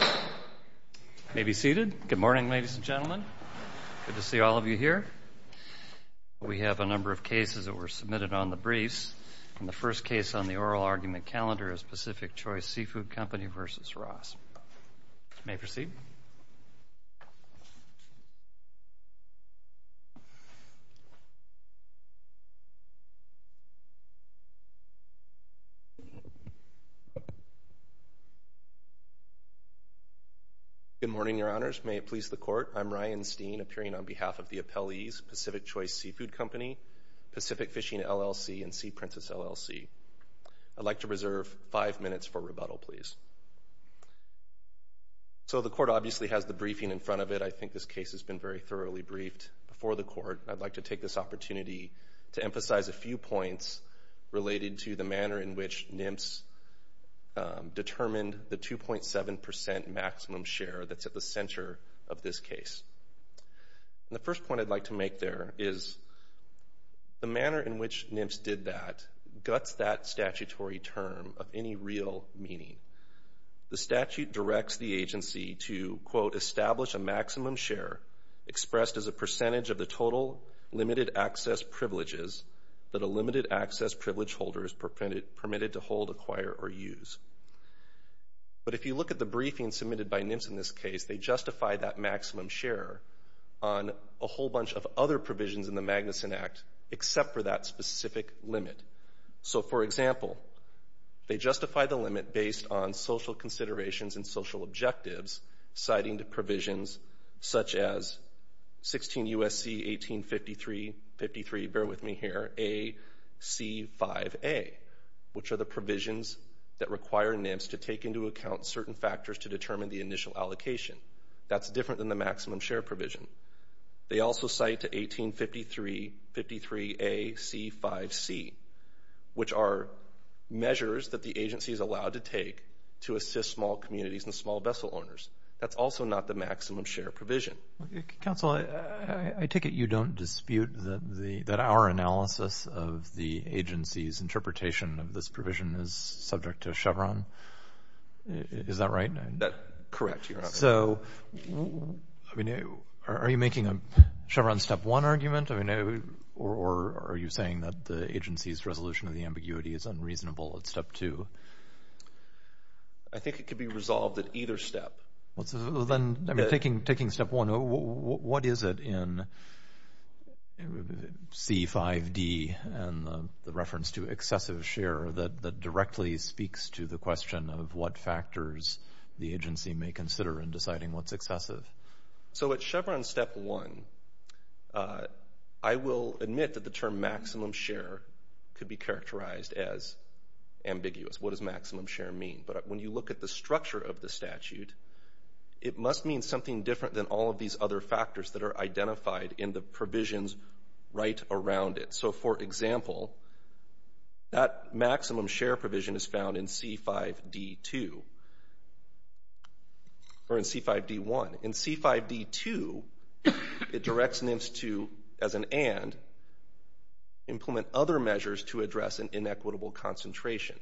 You may be seated. Good morning, ladies and gentlemen. Good to see all of you here. We have a number of cases that were submitted on the briefs, and the first case on the oral argument calendar is Pacific Choice Seafood Company v. Ross. You may proceed. Good morning, Your Honors. May it please the Court, I'm Ryan Steen, appearing on behalf of the appellees Pacific Choice Seafood Company, Pacific Fishing LLC, and Sea Princess LLC. I'd like to reserve five minutes for rebuttal, please. So the Court obviously has the briefing in front of it. I think this case has been very thoroughly briefed before the Court. I'd like to take this opportunity to emphasize a few points related to the manner in which NMFS determined the 2.7% maximum share that's at the center of this case. The first point I'd like to make there is the manner in which NMFS did that guts that statutory term of any real meaning. The statute directs the agency to, quote, permitted to hold, acquire, or use. But if you look at the briefing submitted by NMFS in this case, they justify that maximum share on a whole bunch of other provisions in the Magnuson Act except for that specific limit. So, for example, they justify the limit based on social considerations and social objectives citing the provisions such as 16 U.S.C. 1853, bear with me here, AC5A, which are the provisions that require NMFS to take into account certain factors to determine the initial allocation. That's different than the maximum share provision. They also cite to 1853, 53 AC5C, which are measures that the agency is allowed to take to assist small communities and small vessel owners. That's also not the maximum share provision. Okay. Counsel, I take it you don't dispute that our analysis of the agency's interpretation of this provision is subject to Chevron? Is that right? Correct. So, are you making a Chevron step one argument? Or are you saying that the agency's resolution of the ambiguity is unreasonable at step two? I think it could be resolved at either step. Well, then, taking step one, what is it in C5D and the reference to excessive share that directly speaks to the question of what factors the agency may consider in deciding what's excessive? So at Chevron step one, I will admit that the term maximum share could be characterized as ambiguous. What does maximum share mean? But when you look at the structure of the statute, it must mean something different than all of these other factors that are identified in the provisions right around it. So, for example, that maximum share provision is found in C5D2 or in C5D1. In C5D2, it directs NIMS to, as an and, implement other measures to address an inequitable concentration.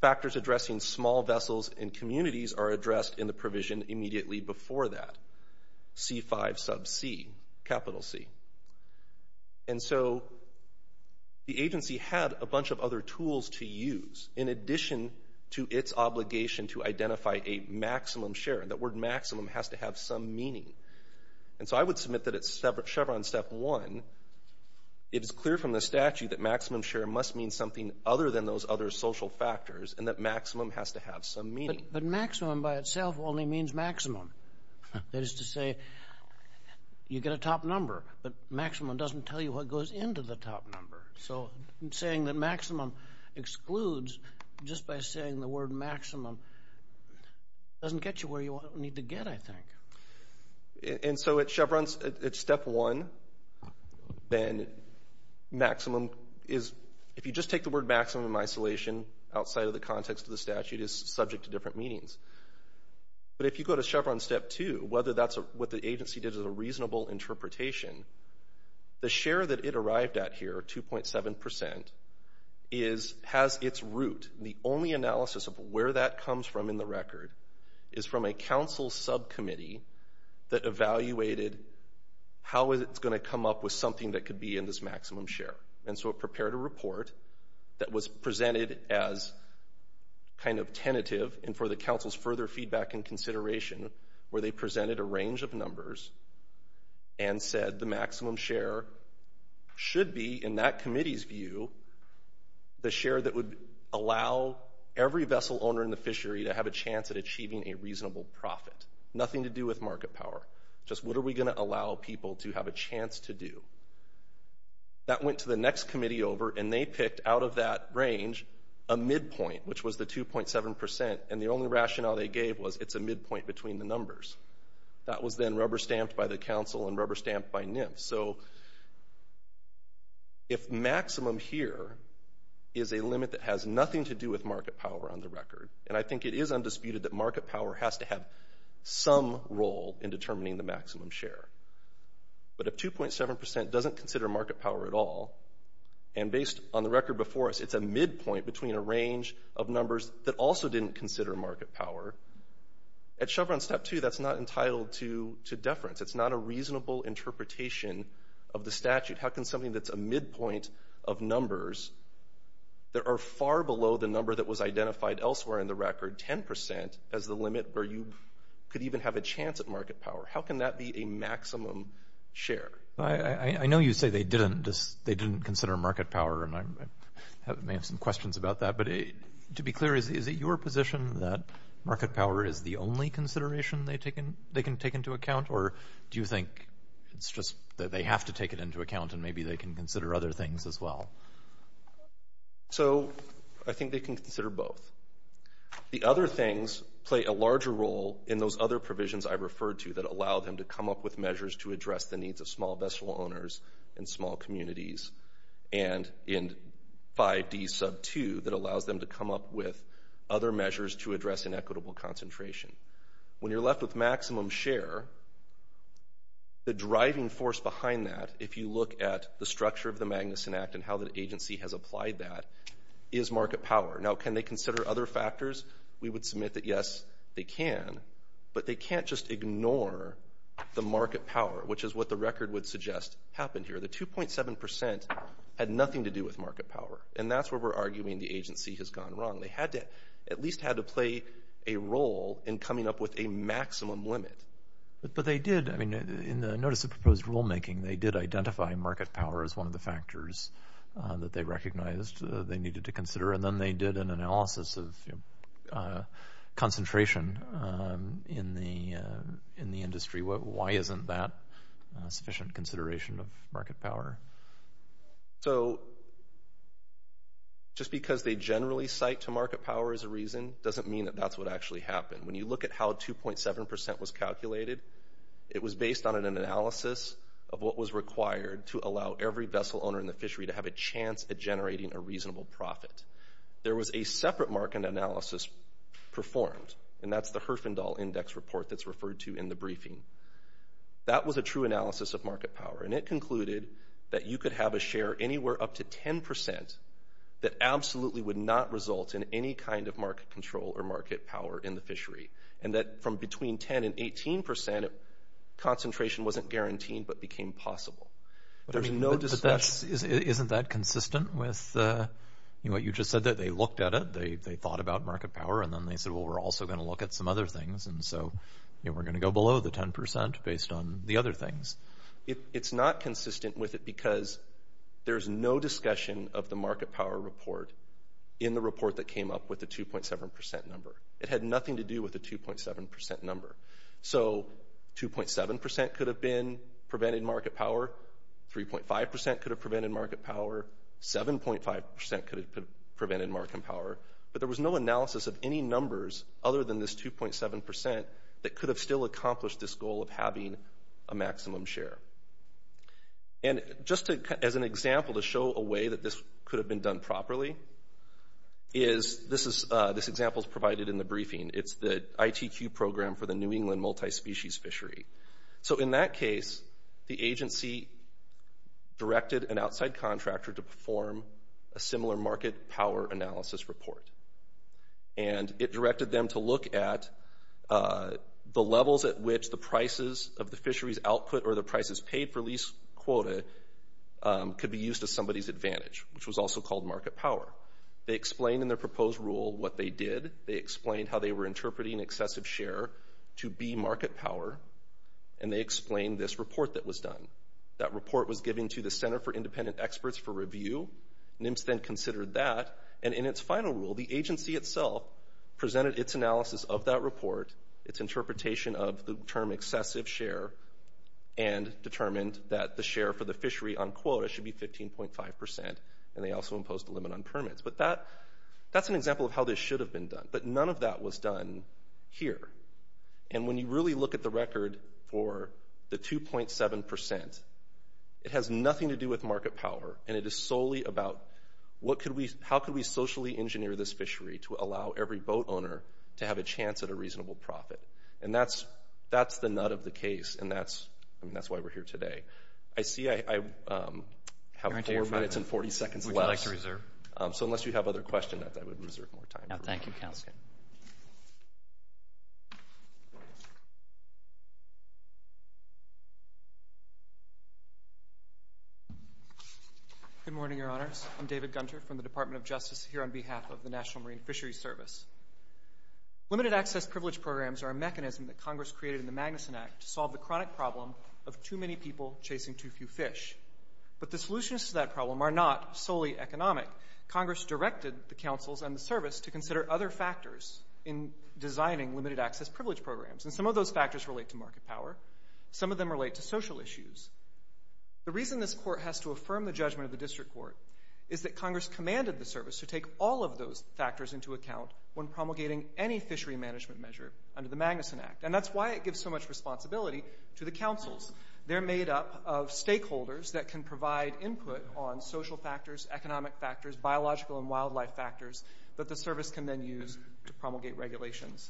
Factors addressing small vessels and communities are addressed in the provision immediately before that, C5C. And so the agency had a bunch of other tools to use in addition to its obligation to identify a maximum share. That word maximum has to have some meaning. And so I would submit that at Chevron step one, it is clear from the statute that maximum share must mean something other than those other social factors and that maximum has to have some meaning. But maximum by itself only means maximum. That is to say, you get a top number, but maximum doesn't tell you what goes into the top number. So saying that maximum excludes just by saying the word maximum doesn't get you where you need to get, I think. And so at Chevron at step one, then maximum is, if you just take the word maximum in isolation, outside of the context of the statute, is subject to different meanings. But if you go to Chevron step two, whether that's what the agency did as a reasonable interpretation, the share that it arrived at here, 2.7%, has its root. The only analysis of where that comes from in the record is from a council subcommittee that evaluated how it's going to come up with something that could be in this maximum share. And so it prepared a report that was presented as kind of tentative and for the council's further feedback and consideration where they presented a range of numbers and said the maximum share should be, in that committee's view, the share that would allow every vessel owner in the fishery to have a chance at achieving a reasonable profit. Nothing to do with market power. Just what are we going to allow people to have a chance to do? That went to the next committee over, and they picked out of that range a midpoint, which was the 2.7%, and the only rationale they gave was it's a midpoint between the numbers. That was then rubber stamped by the council and rubber stamped by NIMF. So if maximum here is a limit that has nothing to do with market power on the record, and I think it is undisputed that market power has to have some role in determining the maximum share, but if 2.7% doesn't consider market power at all, and based on the record before us it's a midpoint between a range of numbers that also didn't consider market power, at Chevron Step 2 that's not entitled to deference. It's not a reasonable interpretation of the statute. How can something that's a midpoint of numbers that are far below the number that was identified elsewhere in the record, as the limit where you could even have a chance at market power? How can that be a maximum share? I know you say they didn't consider market power, and I may have some questions about that, but to be clear is it your position that market power is the only consideration they can take into account, or do you think it's just that they have to take it into account and maybe they can consider other things as well? So I think they can consider both. The other things play a larger role in those other provisions I referred to that allow them to come up with measures to address the needs of small vessel owners and small communities, and in 5D2 that allows them to come up with other measures to address inequitable concentration. When you're left with maximum share, the driving force behind that, if you look at the structure of the Magnuson Act and how the agency has applied that, is market power. Now, can they consider other factors? We would submit that, yes, they can, but they can't just ignore the market power, which is what the record would suggest happened here. The 2.7% had nothing to do with market power, and that's where we're arguing the agency has gone wrong. They at least had to play a role in coming up with a maximum limit. But they did. In the Notice of Proposed Rulemaking, they did identify market power as one of the factors that they recognized they needed to consider, and then they did an analysis of concentration in the industry. Why isn't that sufficient consideration of market power? So just because they generally cite to market power as a reason doesn't mean that that's what actually happened. When you look at how 2.7% was calculated, it was based on an analysis of what was required to allow every vessel owner in the fishery to have a chance at generating a reasonable profit. There was a separate market analysis performed, and that's the Herfindahl Index Report that's referred to in the briefing. That was a true analysis of market power, and it concluded that you could have a share anywhere up to 10% that absolutely would not result in any kind of market control or market power in the fishery, and that from between 10% and 18%, concentration wasn't guaranteed but became possible. But isn't that consistent with what you just said, that they looked at it, they thought about market power, and then they said, well, we're also going to look at some other things, and so we're going to go below the 10% based on the other things. It's not consistent with it because there's no discussion of the market power report in the report that came up with the 2.7% number. It had nothing to do with the 2.7% number. So 2.7% could have been preventing market power, 3.5% could have prevented market power, 7.5% could have prevented market power, but there was no analysis of any numbers other than this 2.7% that could have still accomplished this goal of having a maximum share. And just as an example to show a way that this could have been done properly, this example is provided in the briefing. It's the ITQ program for the New England Multispecies Fishery. So in that case, the agency directed an outside contractor to perform a similar market power analysis report, and it directed them to look at the levels at which the prices of the fishery's output or the prices paid for lease quota could be used to somebody's advantage, which was also called market power. They explained in their proposed rule what they did. They explained how they were interpreting excessive share to be market power, and they explained this report that was done. That report was given to the Center for Independent Experts for review. NIMS then considered that, and in its final rule, the agency itself presented its analysis of that report, its interpretation of the term excessive share, and determined that the share for the fishery on quota should be 15.5%, and they also imposed a limit on permits. But that's an example of how this should have been done, but none of that was done here. And when you really look at the record for the 2.7%, it has nothing to do with market power, and it is solely about how could we socially engineer this fishery to allow every boat owner to have a chance at a reasonable profit. And that's the nut of the case, and that's why we're here today. I see I have 4 minutes and 40 seconds left. What would you like to reserve? So unless you have other questions, I would reserve more time. Thank you, Counselor. Good morning, Your Honors. I'm David Gunter from the Department of Justice here on behalf of the National Marine Fishery Service. Limited access privilege programs are a mechanism that Congress created in the Magnuson Act to solve the chronic problem of too many people chasing too few fish. But the solutions to that problem are not solely economic. Congress directed the councils and the service to consider other factors in designing limited access privilege programs, and some of those factors relate to market power. Some of them relate to social issues. The reason this court has to affirm the judgment of the district court is that Congress commanded the service to take all of those factors into account when promulgating any fishery management measure under the Magnuson Act, and that's why it gives so much responsibility to the councils. They're made up of stakeholders that can provide input on social factors, economic factors, biological and wildlife factors that the service can then use to promulgate regulations.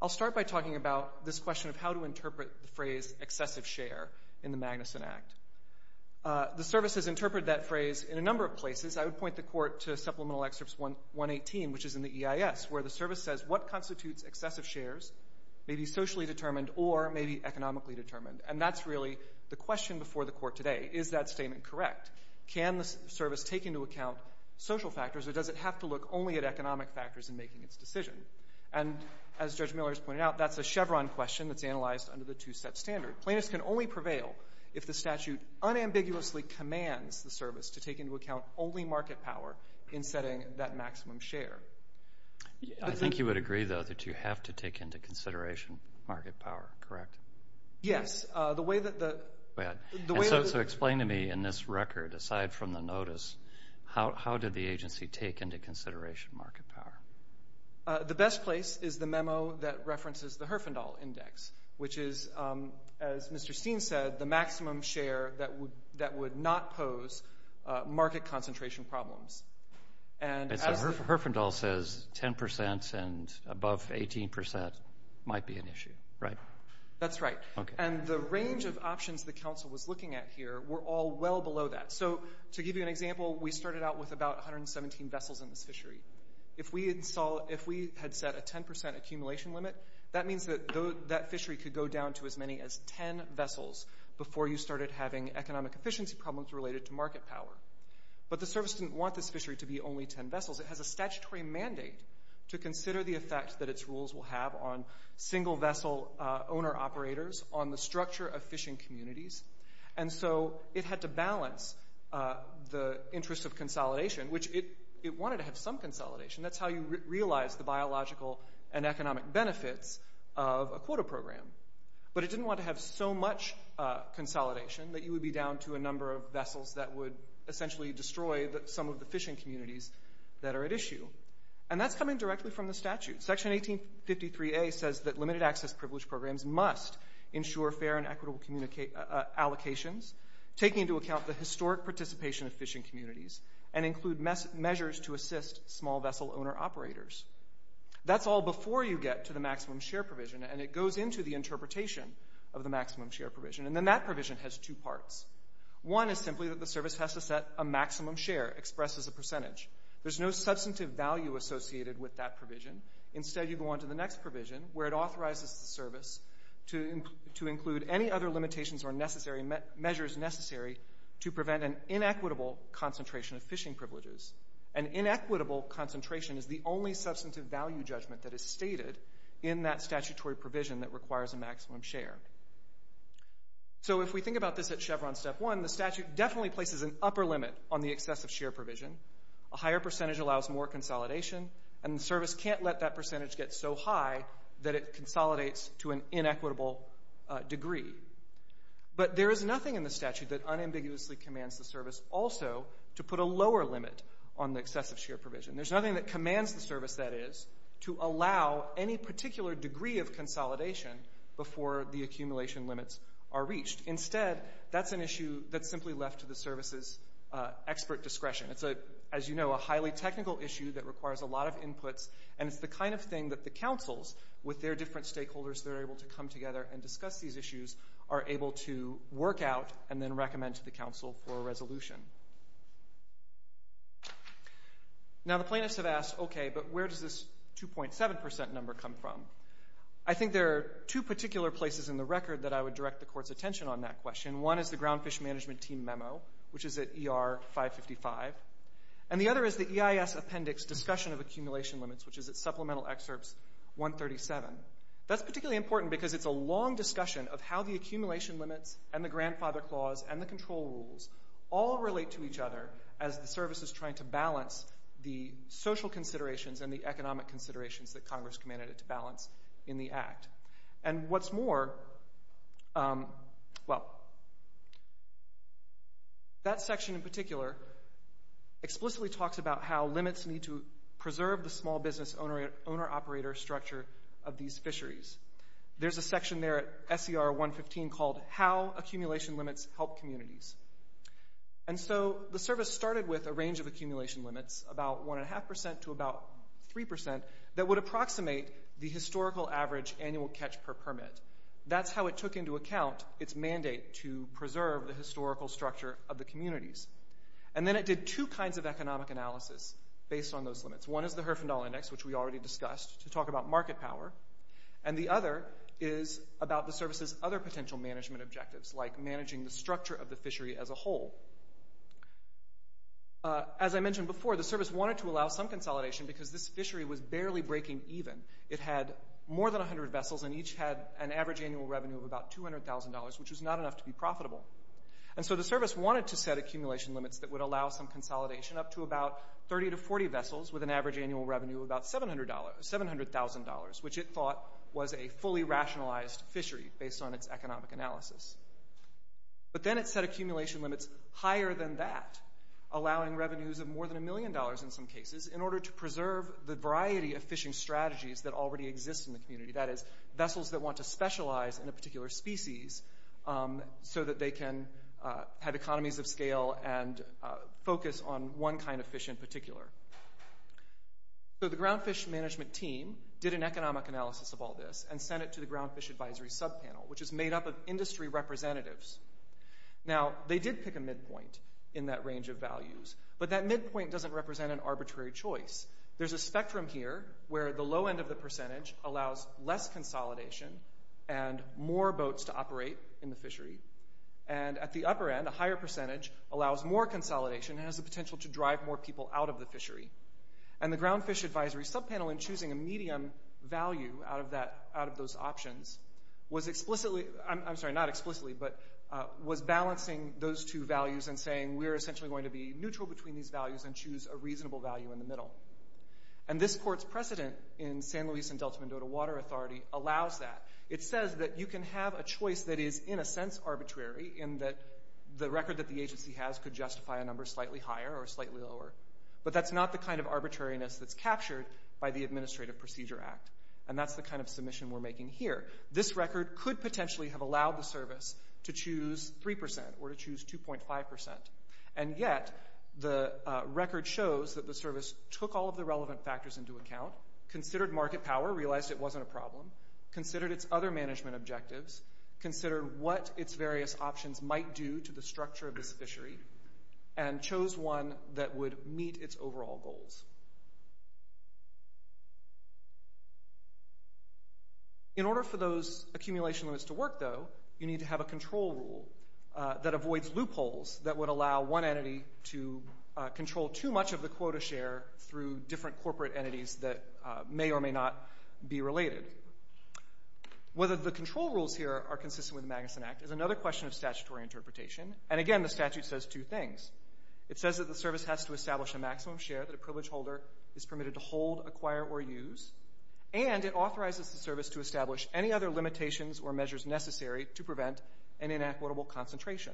I'll start by talking about this question of how to interpret the phrase excessive share in the Magnuson Act. The service has interpreted that phrase in a number of places. I would point the court to Supplemental Excerpt 118, which is in the EIS, where the service says what constitutes excessive shares, maybe socially determined or maybe economically determined, and that's really the question before the court today, is that statement correct? Can the service take into account social factors or does it have to look only at economic factors in making its decision? And as Judge Miller has pointed out, that's a Chevron question that's analyzed under the two-set standard. Plaintiffs can only prevail if the statute unambiguously commands the service to take into account only market power in setting that maximum share. I think you would agree, though, that you have to take into consideration market power, correct? Yes. So explain to me in this record, aside from the notice, how did the agency take into consideration market power? The best place is the memo that references the Herfindahl Index, which is, as Mr. Steen said, the maximum share that would not pose market concentration problems. So Herfindahl says 10% and above 18% might be an issue, right? That's right. And the range of options the council was looking at here were all well below that. So to give you an example, we started out with about 117 vessels in this fishery. If we had set a 10% accumulation limit, that means that that fishery could go down to as many as 10 vessels before you started having economic efficiency problems related to market power. But the service didn't want this fishery to be only 10 vessels. It has a statutory mandate to consider the effect that its rules will have on single-vessel owner-operators, on the structure of fishing communities. And so it had to balance the interest of consolidation, which it wanted to have some consolidation. That's how you realize the biological and economic benefits of a quota program. But it didn't want to have so much consolidation that you would be down to a number of vessels that would essentially destroy some of the fishing communities that are at issue. And that's coming directly from the statute. Section 1853A says that limited-access privilege programs must ensure fair and equitable allocations, take into account the historic participation of fishing communities, and include measures to assist small-vessel owner-operators. That's all before you get to the maximum share provision, and it goes into the interpretation of the maximum share provision. And then that provision has two parts. One is simply that the service has to set a maximum share expressed as a percentage. There's no substantive value associated with that provision. Instead, you go on to the next provision, where it authorizes the service to include any other limitations or measures necessary to prevent an inequitable concentration of fishing privileges. An inequitable concentration is the only substantive value judgment that is stated in that statutory provision that requires a maximum share. So if we think about this at Chevron Step 1, the statute definitely places an upper limit on the excessive share provision. A higher percentage allows more consolidation, and the service can't let that percentage get so high that it consolidates to an inequitable degree. But there is nothing in the statute that unambiguously commands the service also to put a lower limit on the excessive share provision. There's nothing that commands the service, that is, to allow any particular degree of consolidation before the accumulation limits are reached. Instead, that's an issue that's simply left to the service's expert discretion. It's, as you know, a highly technical issue that requires a lot of inputs, and it's the kind of thing that the councils, with their different stakeholders that are able to come together and discuss these issues, are able to work out and then recommend to the council for a resolution. Now, the plaintiffs have asked, okay, but where does this 2.7% number come from? I think there are two particular places in the record that I would direct the court's attention on that question. One is the Groundfish Management Team Memo, which is at ER 555, and the other is the EIS Appendix Discussion of Accumulation Limits, which is at Supplemental Excerpts 137. That's particularly important because it's a long discussion of how the accumulation limits and the grandfather clause and the control rules all relate to each other as the service is trying to balance the social considerations and the economic considerations that Congress commanded it to balance in the Act. And what's more, well, that section in particular explicitly talks about how limits need to preserve the small business owner-operator structure of these fisheries. There's a section there at SCR 115 called How Accumulation Limits Help Communities. And so the service started with a range of accumulation limits, about 1.5% to about 3%, that would approximate the historical average annual catch per permit. That's how it took into account its mandate to preserve the historical structure of the communities. And then it did two kinds of economic analysis based on those limits. One is the Herfindahl Index, which we already discussed, to talk about market power, and the other is about the service's other potential management objectives, like managing the structure of the fishery as a whole. As I mentioned before, the service wanted to allow some consolidation because this fishery was barely breaking even. It had more than 100 vessels and each had an average annual revenue of about $200,000, which was not enough to be profitable. And so the service wanted to set accumulation limits that would allow some consolidation up to about 30 to 40 vessels with an average annual revenue of about $700,000, which it thought was a fully rationalized fishery based on its economic analysis. But then it set accumulation limits higher than that, allowing revenues of more than $1 million in some cases in order to preserve the variety of fishing strategies that already exist in the community, that is, vessels that want to specialize in a particular species so that they can have economies of scale and focus on one kind of fish in particular. So the groundfish management team did an economic analysis of all this and sent it to the groundfish advisory subpanel, which is made up of industry representatives. Now, they did pick a midpoint in that range of values, but that midpoint doesn't represent an arbitrary choice. There's a spectrum here where the low end of the percentage allows less consolidation and more boats to operate in the fishery, and at the upper end, a higher percentage allows more consolidation and has the potential to drive more people out of the fishery. And the groundfish advisory subpanel, in choosing a medium value out of those options, was explicitly... I'm sorry, not explicitly, but was balancing those two values and saying we're essentially going to be neutral between these values and choose a reasonable value in the middle. And this court's precedent in San Luis and Delta Mendoza Water Authority allows that. It says that you can have a choice that is in a sense arbitrary in that the record that the agency has could justify a number slightly higher or slightly lower, but that's not the kind of arbitrariness that's captured by the Administrative Procedure Act, and that's the kind of submission we're making here. This record could potentially have allowed the service to choose 3% or to choose 2.5%, and yet the record shows that the service took all of the relevant factors into account, considered market power, realized it wasn't a problem, considered its other management objectives, considered what its various options might do to the structure of this fishery, and chose one that would meet its overall goals. In order for those accumulation limits to work, though, you need to have a control rule that avoids loopholes that would allow one entity to control too much of the quota share through different corporate entities that may or may not be related. Whether the control rules here are consistent with the Magnuson Act is another question of statutory interpretation, and again, the statute says two things. It says that the service has to establish a maximum share that a privileged holder is permitted to hold, acquire, or use, and it authorizes the service to establish any other limitations or measures necessary to prevent an inequitable concentration.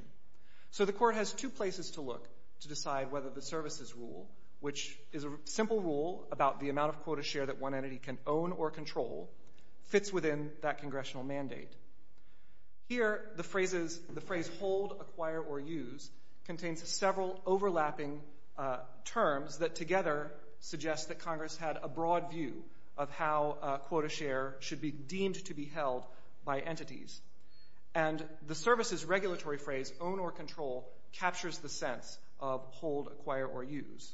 So the court has two places to look to decide whether the services rule, which is a simple rule about the amount of quota share that one entity can own or control, fits within that congressional mandate. Here, the phrase hold, acquire, or use contains several overlapping terms that together suggest that Congress had a broad view of how quota share should be deemed to be held by entities. And the services regulatory phrase, own or control, captures the sense of hold, acquire, or use.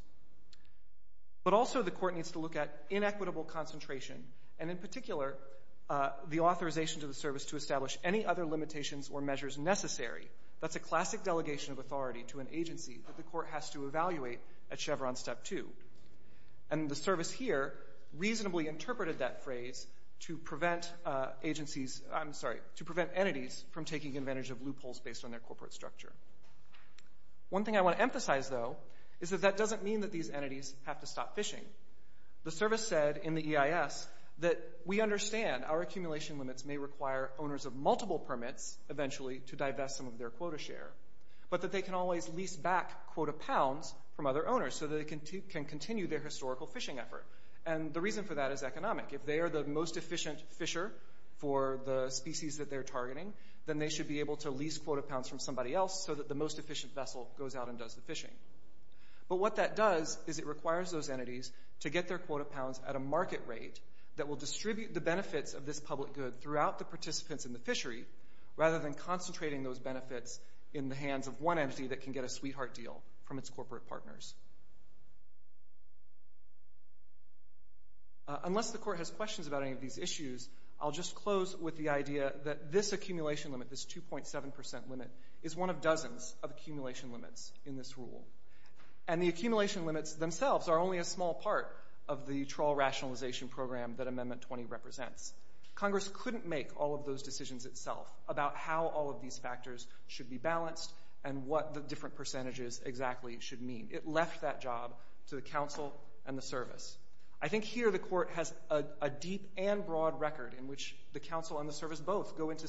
But also, the court needs to look at inequitable concentration, and in particular, the authorization to the service to establish any other limitations or measures necessary. That's a classic delegation of authority to an agency that the court has to evaluate at Chevron Step 2. And the service here reasonably interpreted that phrase to prevent entities from taking advantage of loopholes based on their corporate structure. One thing I want to emphasize, though, is that that doesn't mean that these entities have to stop fishing. The service said in the EIS that we understand our accumulation limits may require owners of multiple permits, eventually, to divest some of their quota share, but that they can always lease back quota pounds from other owners so that they can continue their historical fishing effort. And the reason for that is economic. If they are the most efficient fisher for the species that they're targeting, then they should be able to lease quota pounds from somebody else so that the most efficient vessel goes out and does the fishing. But what that does is it requires those entities to get their quota pounds at a market rate that will distribute the benefits of this public good throughout the participants in the fishery, rather than concentrating those benefits in the hands of one entity that can get a sweetheart deal from its corporate partners. Unless the court has questions about any of these issues, I'll just close with the idea that this accumulation limit, this 2.7% limit, is one of dozens of accumulation limits in this rule. And the accumulation limits themselves are only a small part of the trawl rationalization program that Amendment 20 represents. Congress couldn't make all of those decisions itself about how all of these factors should be balanced and what the different percentages exactly should mean. It left that job to the counsel and the service. I think here the court has a deep and broad record in which the counsel and the service both go into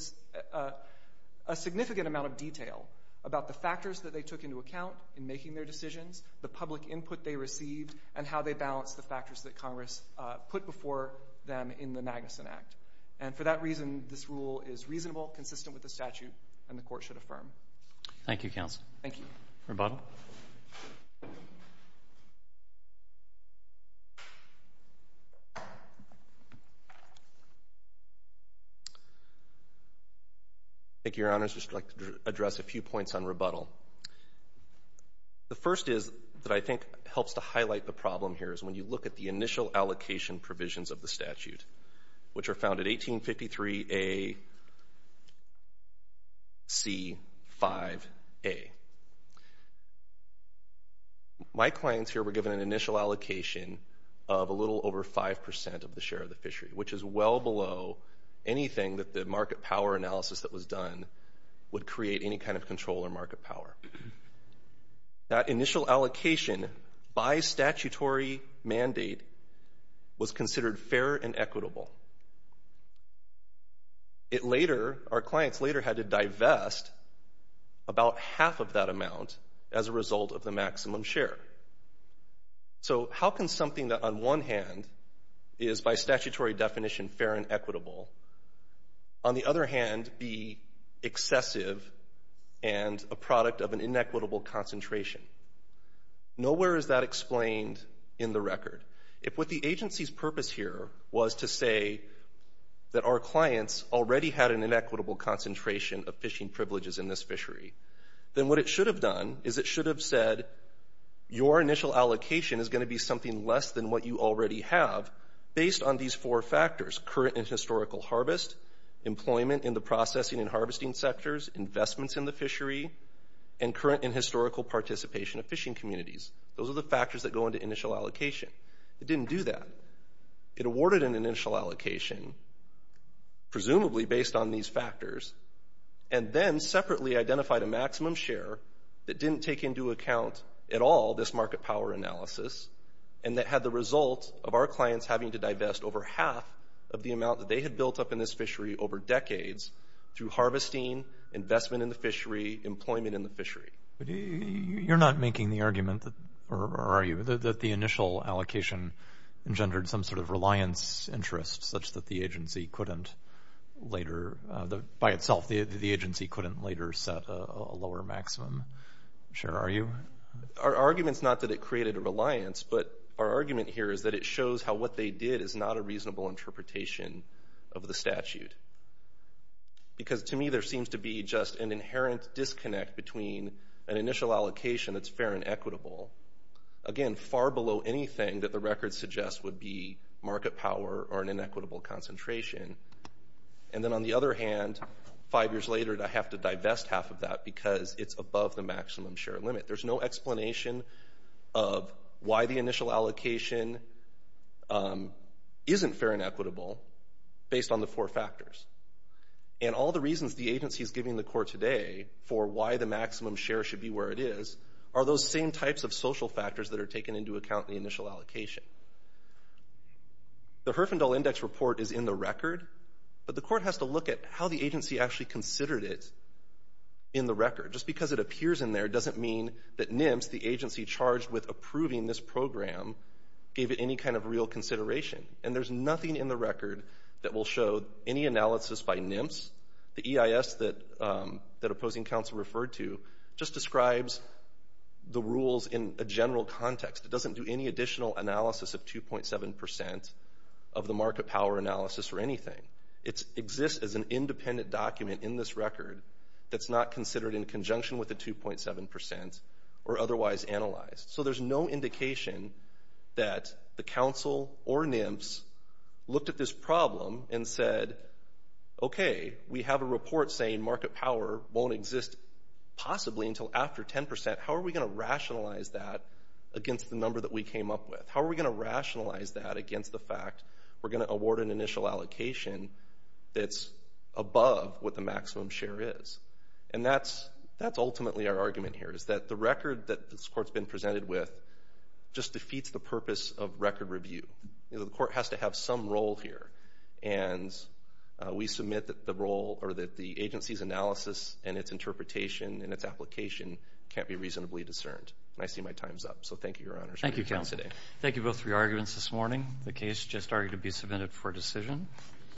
a significant amount of detail about the factors that they took into account in making their decisions, the public input they received, and how they balanced the factors that Congress put before them in the Magnuson Act. And for that reason, this rule is reasonable, consistent with the statute, and the court should affirm. Thank you, counsel. Thank you. Rebuttal. Thank you, Your Honors. I'd just like to address a few points on rebuttal. The first is that I think helps to highlight the problem here is when you look at the initial allocation provisions of the statute, which are found at 1853 A.C. 5A. My clients here were given an initial allocation of a little over 5% of the share of the fishery, which is well below anything that the market power analysis that was done would create any kind of control or market power. That initial allocation by statutory mandate was considered fair and equitable. It later, our clients later had to divest about half of that amount as a result of the maximum share. So how can something that on one hand is by statutory definition fair and equitable, on the other hand be excessive and a product of an inequitable concentration? Nowhere is that explained in the record. If what the agency's purpose here was to say that our clients already had an inequitable concentration of fishing privileges in this fishery, then what it should have done is it should have said your initial allocation is going to be something less than what you already have based on these four factors, current and historical harvest, employment in the processing and harvesting sectors, investments in the fishery, and current and historical participation of fishing communities. Those are the factors that go into initial allocation. It didn't do that. It awarded an initial allocation, presumably based on these factors, and then separately identified a maximum share that didn't take into account at all this market power analysis and that had the result of our clients having to divest over half of the amount that they had built up in this fishery over decades through harvesting, investment in the fishery, employment in the fishery. You're not making the argument, or are you, that the initial allocation engendered some sort of reliance interest such that the agency couldn't later, by itself, the agency couldn't later set a lower maximum share, are you? Our argument's not that it created a reliance, but our argument here is that it shows how what they did is not a reasonable interpretation of the statute, because to me there seems to be just an inherent disconnect between an initial allocation that's fair and equitable, again, far below anything that the record suggests would be market power or an inequitable concentration, and then on the other hand, five years later I have to divest half of that because it's above the maximum share limit. There's no explanation of why the initial allocation isn't fair and equitable based on the four factors. And all the reasons the agency's giving the court today for why the maximum share should be where it is are those same types of social factors that are taken into account in the initial allocation. The Herfindahl Index Report is in the record, but the court has to look at how the agency actually considered it in the record. Just because it appears in there doesn't mean that NIMS, the agency charged with approving this program, gave it any kind of real consideration. And there's nothing in the record that will show any analysis by NIMS. The EIS that opposing counsel referred to just describes the rules in a general context. It doesn't do any additional analysis of 2.7% of the market power analysis or anything. It exists as an independent document in this record that's not considered in conjunction with the 2.7% or otherwise analyzed. So there's no indication that the counsel or NIMS looked at this problem and said, okay, we have a report saying market power won't exist possibly until after 10%. How are we going to rationalize that against the number that we came up with? How are we going to rationalize that against the fact we're going to award an initial allocation that's above what the maximum share is? And that's ultimately our argument here, is that the record that this court's been presented with just defeats the purpose of record review. The court has to have some role here, and we submit that the agency's analysis and its interpretation and its application can't be reasonably discerned. And I see my time's up. So thank you, Your Honors, for your time today. Thank you both for your arguments this morning. The case just argued to be submitted for decision.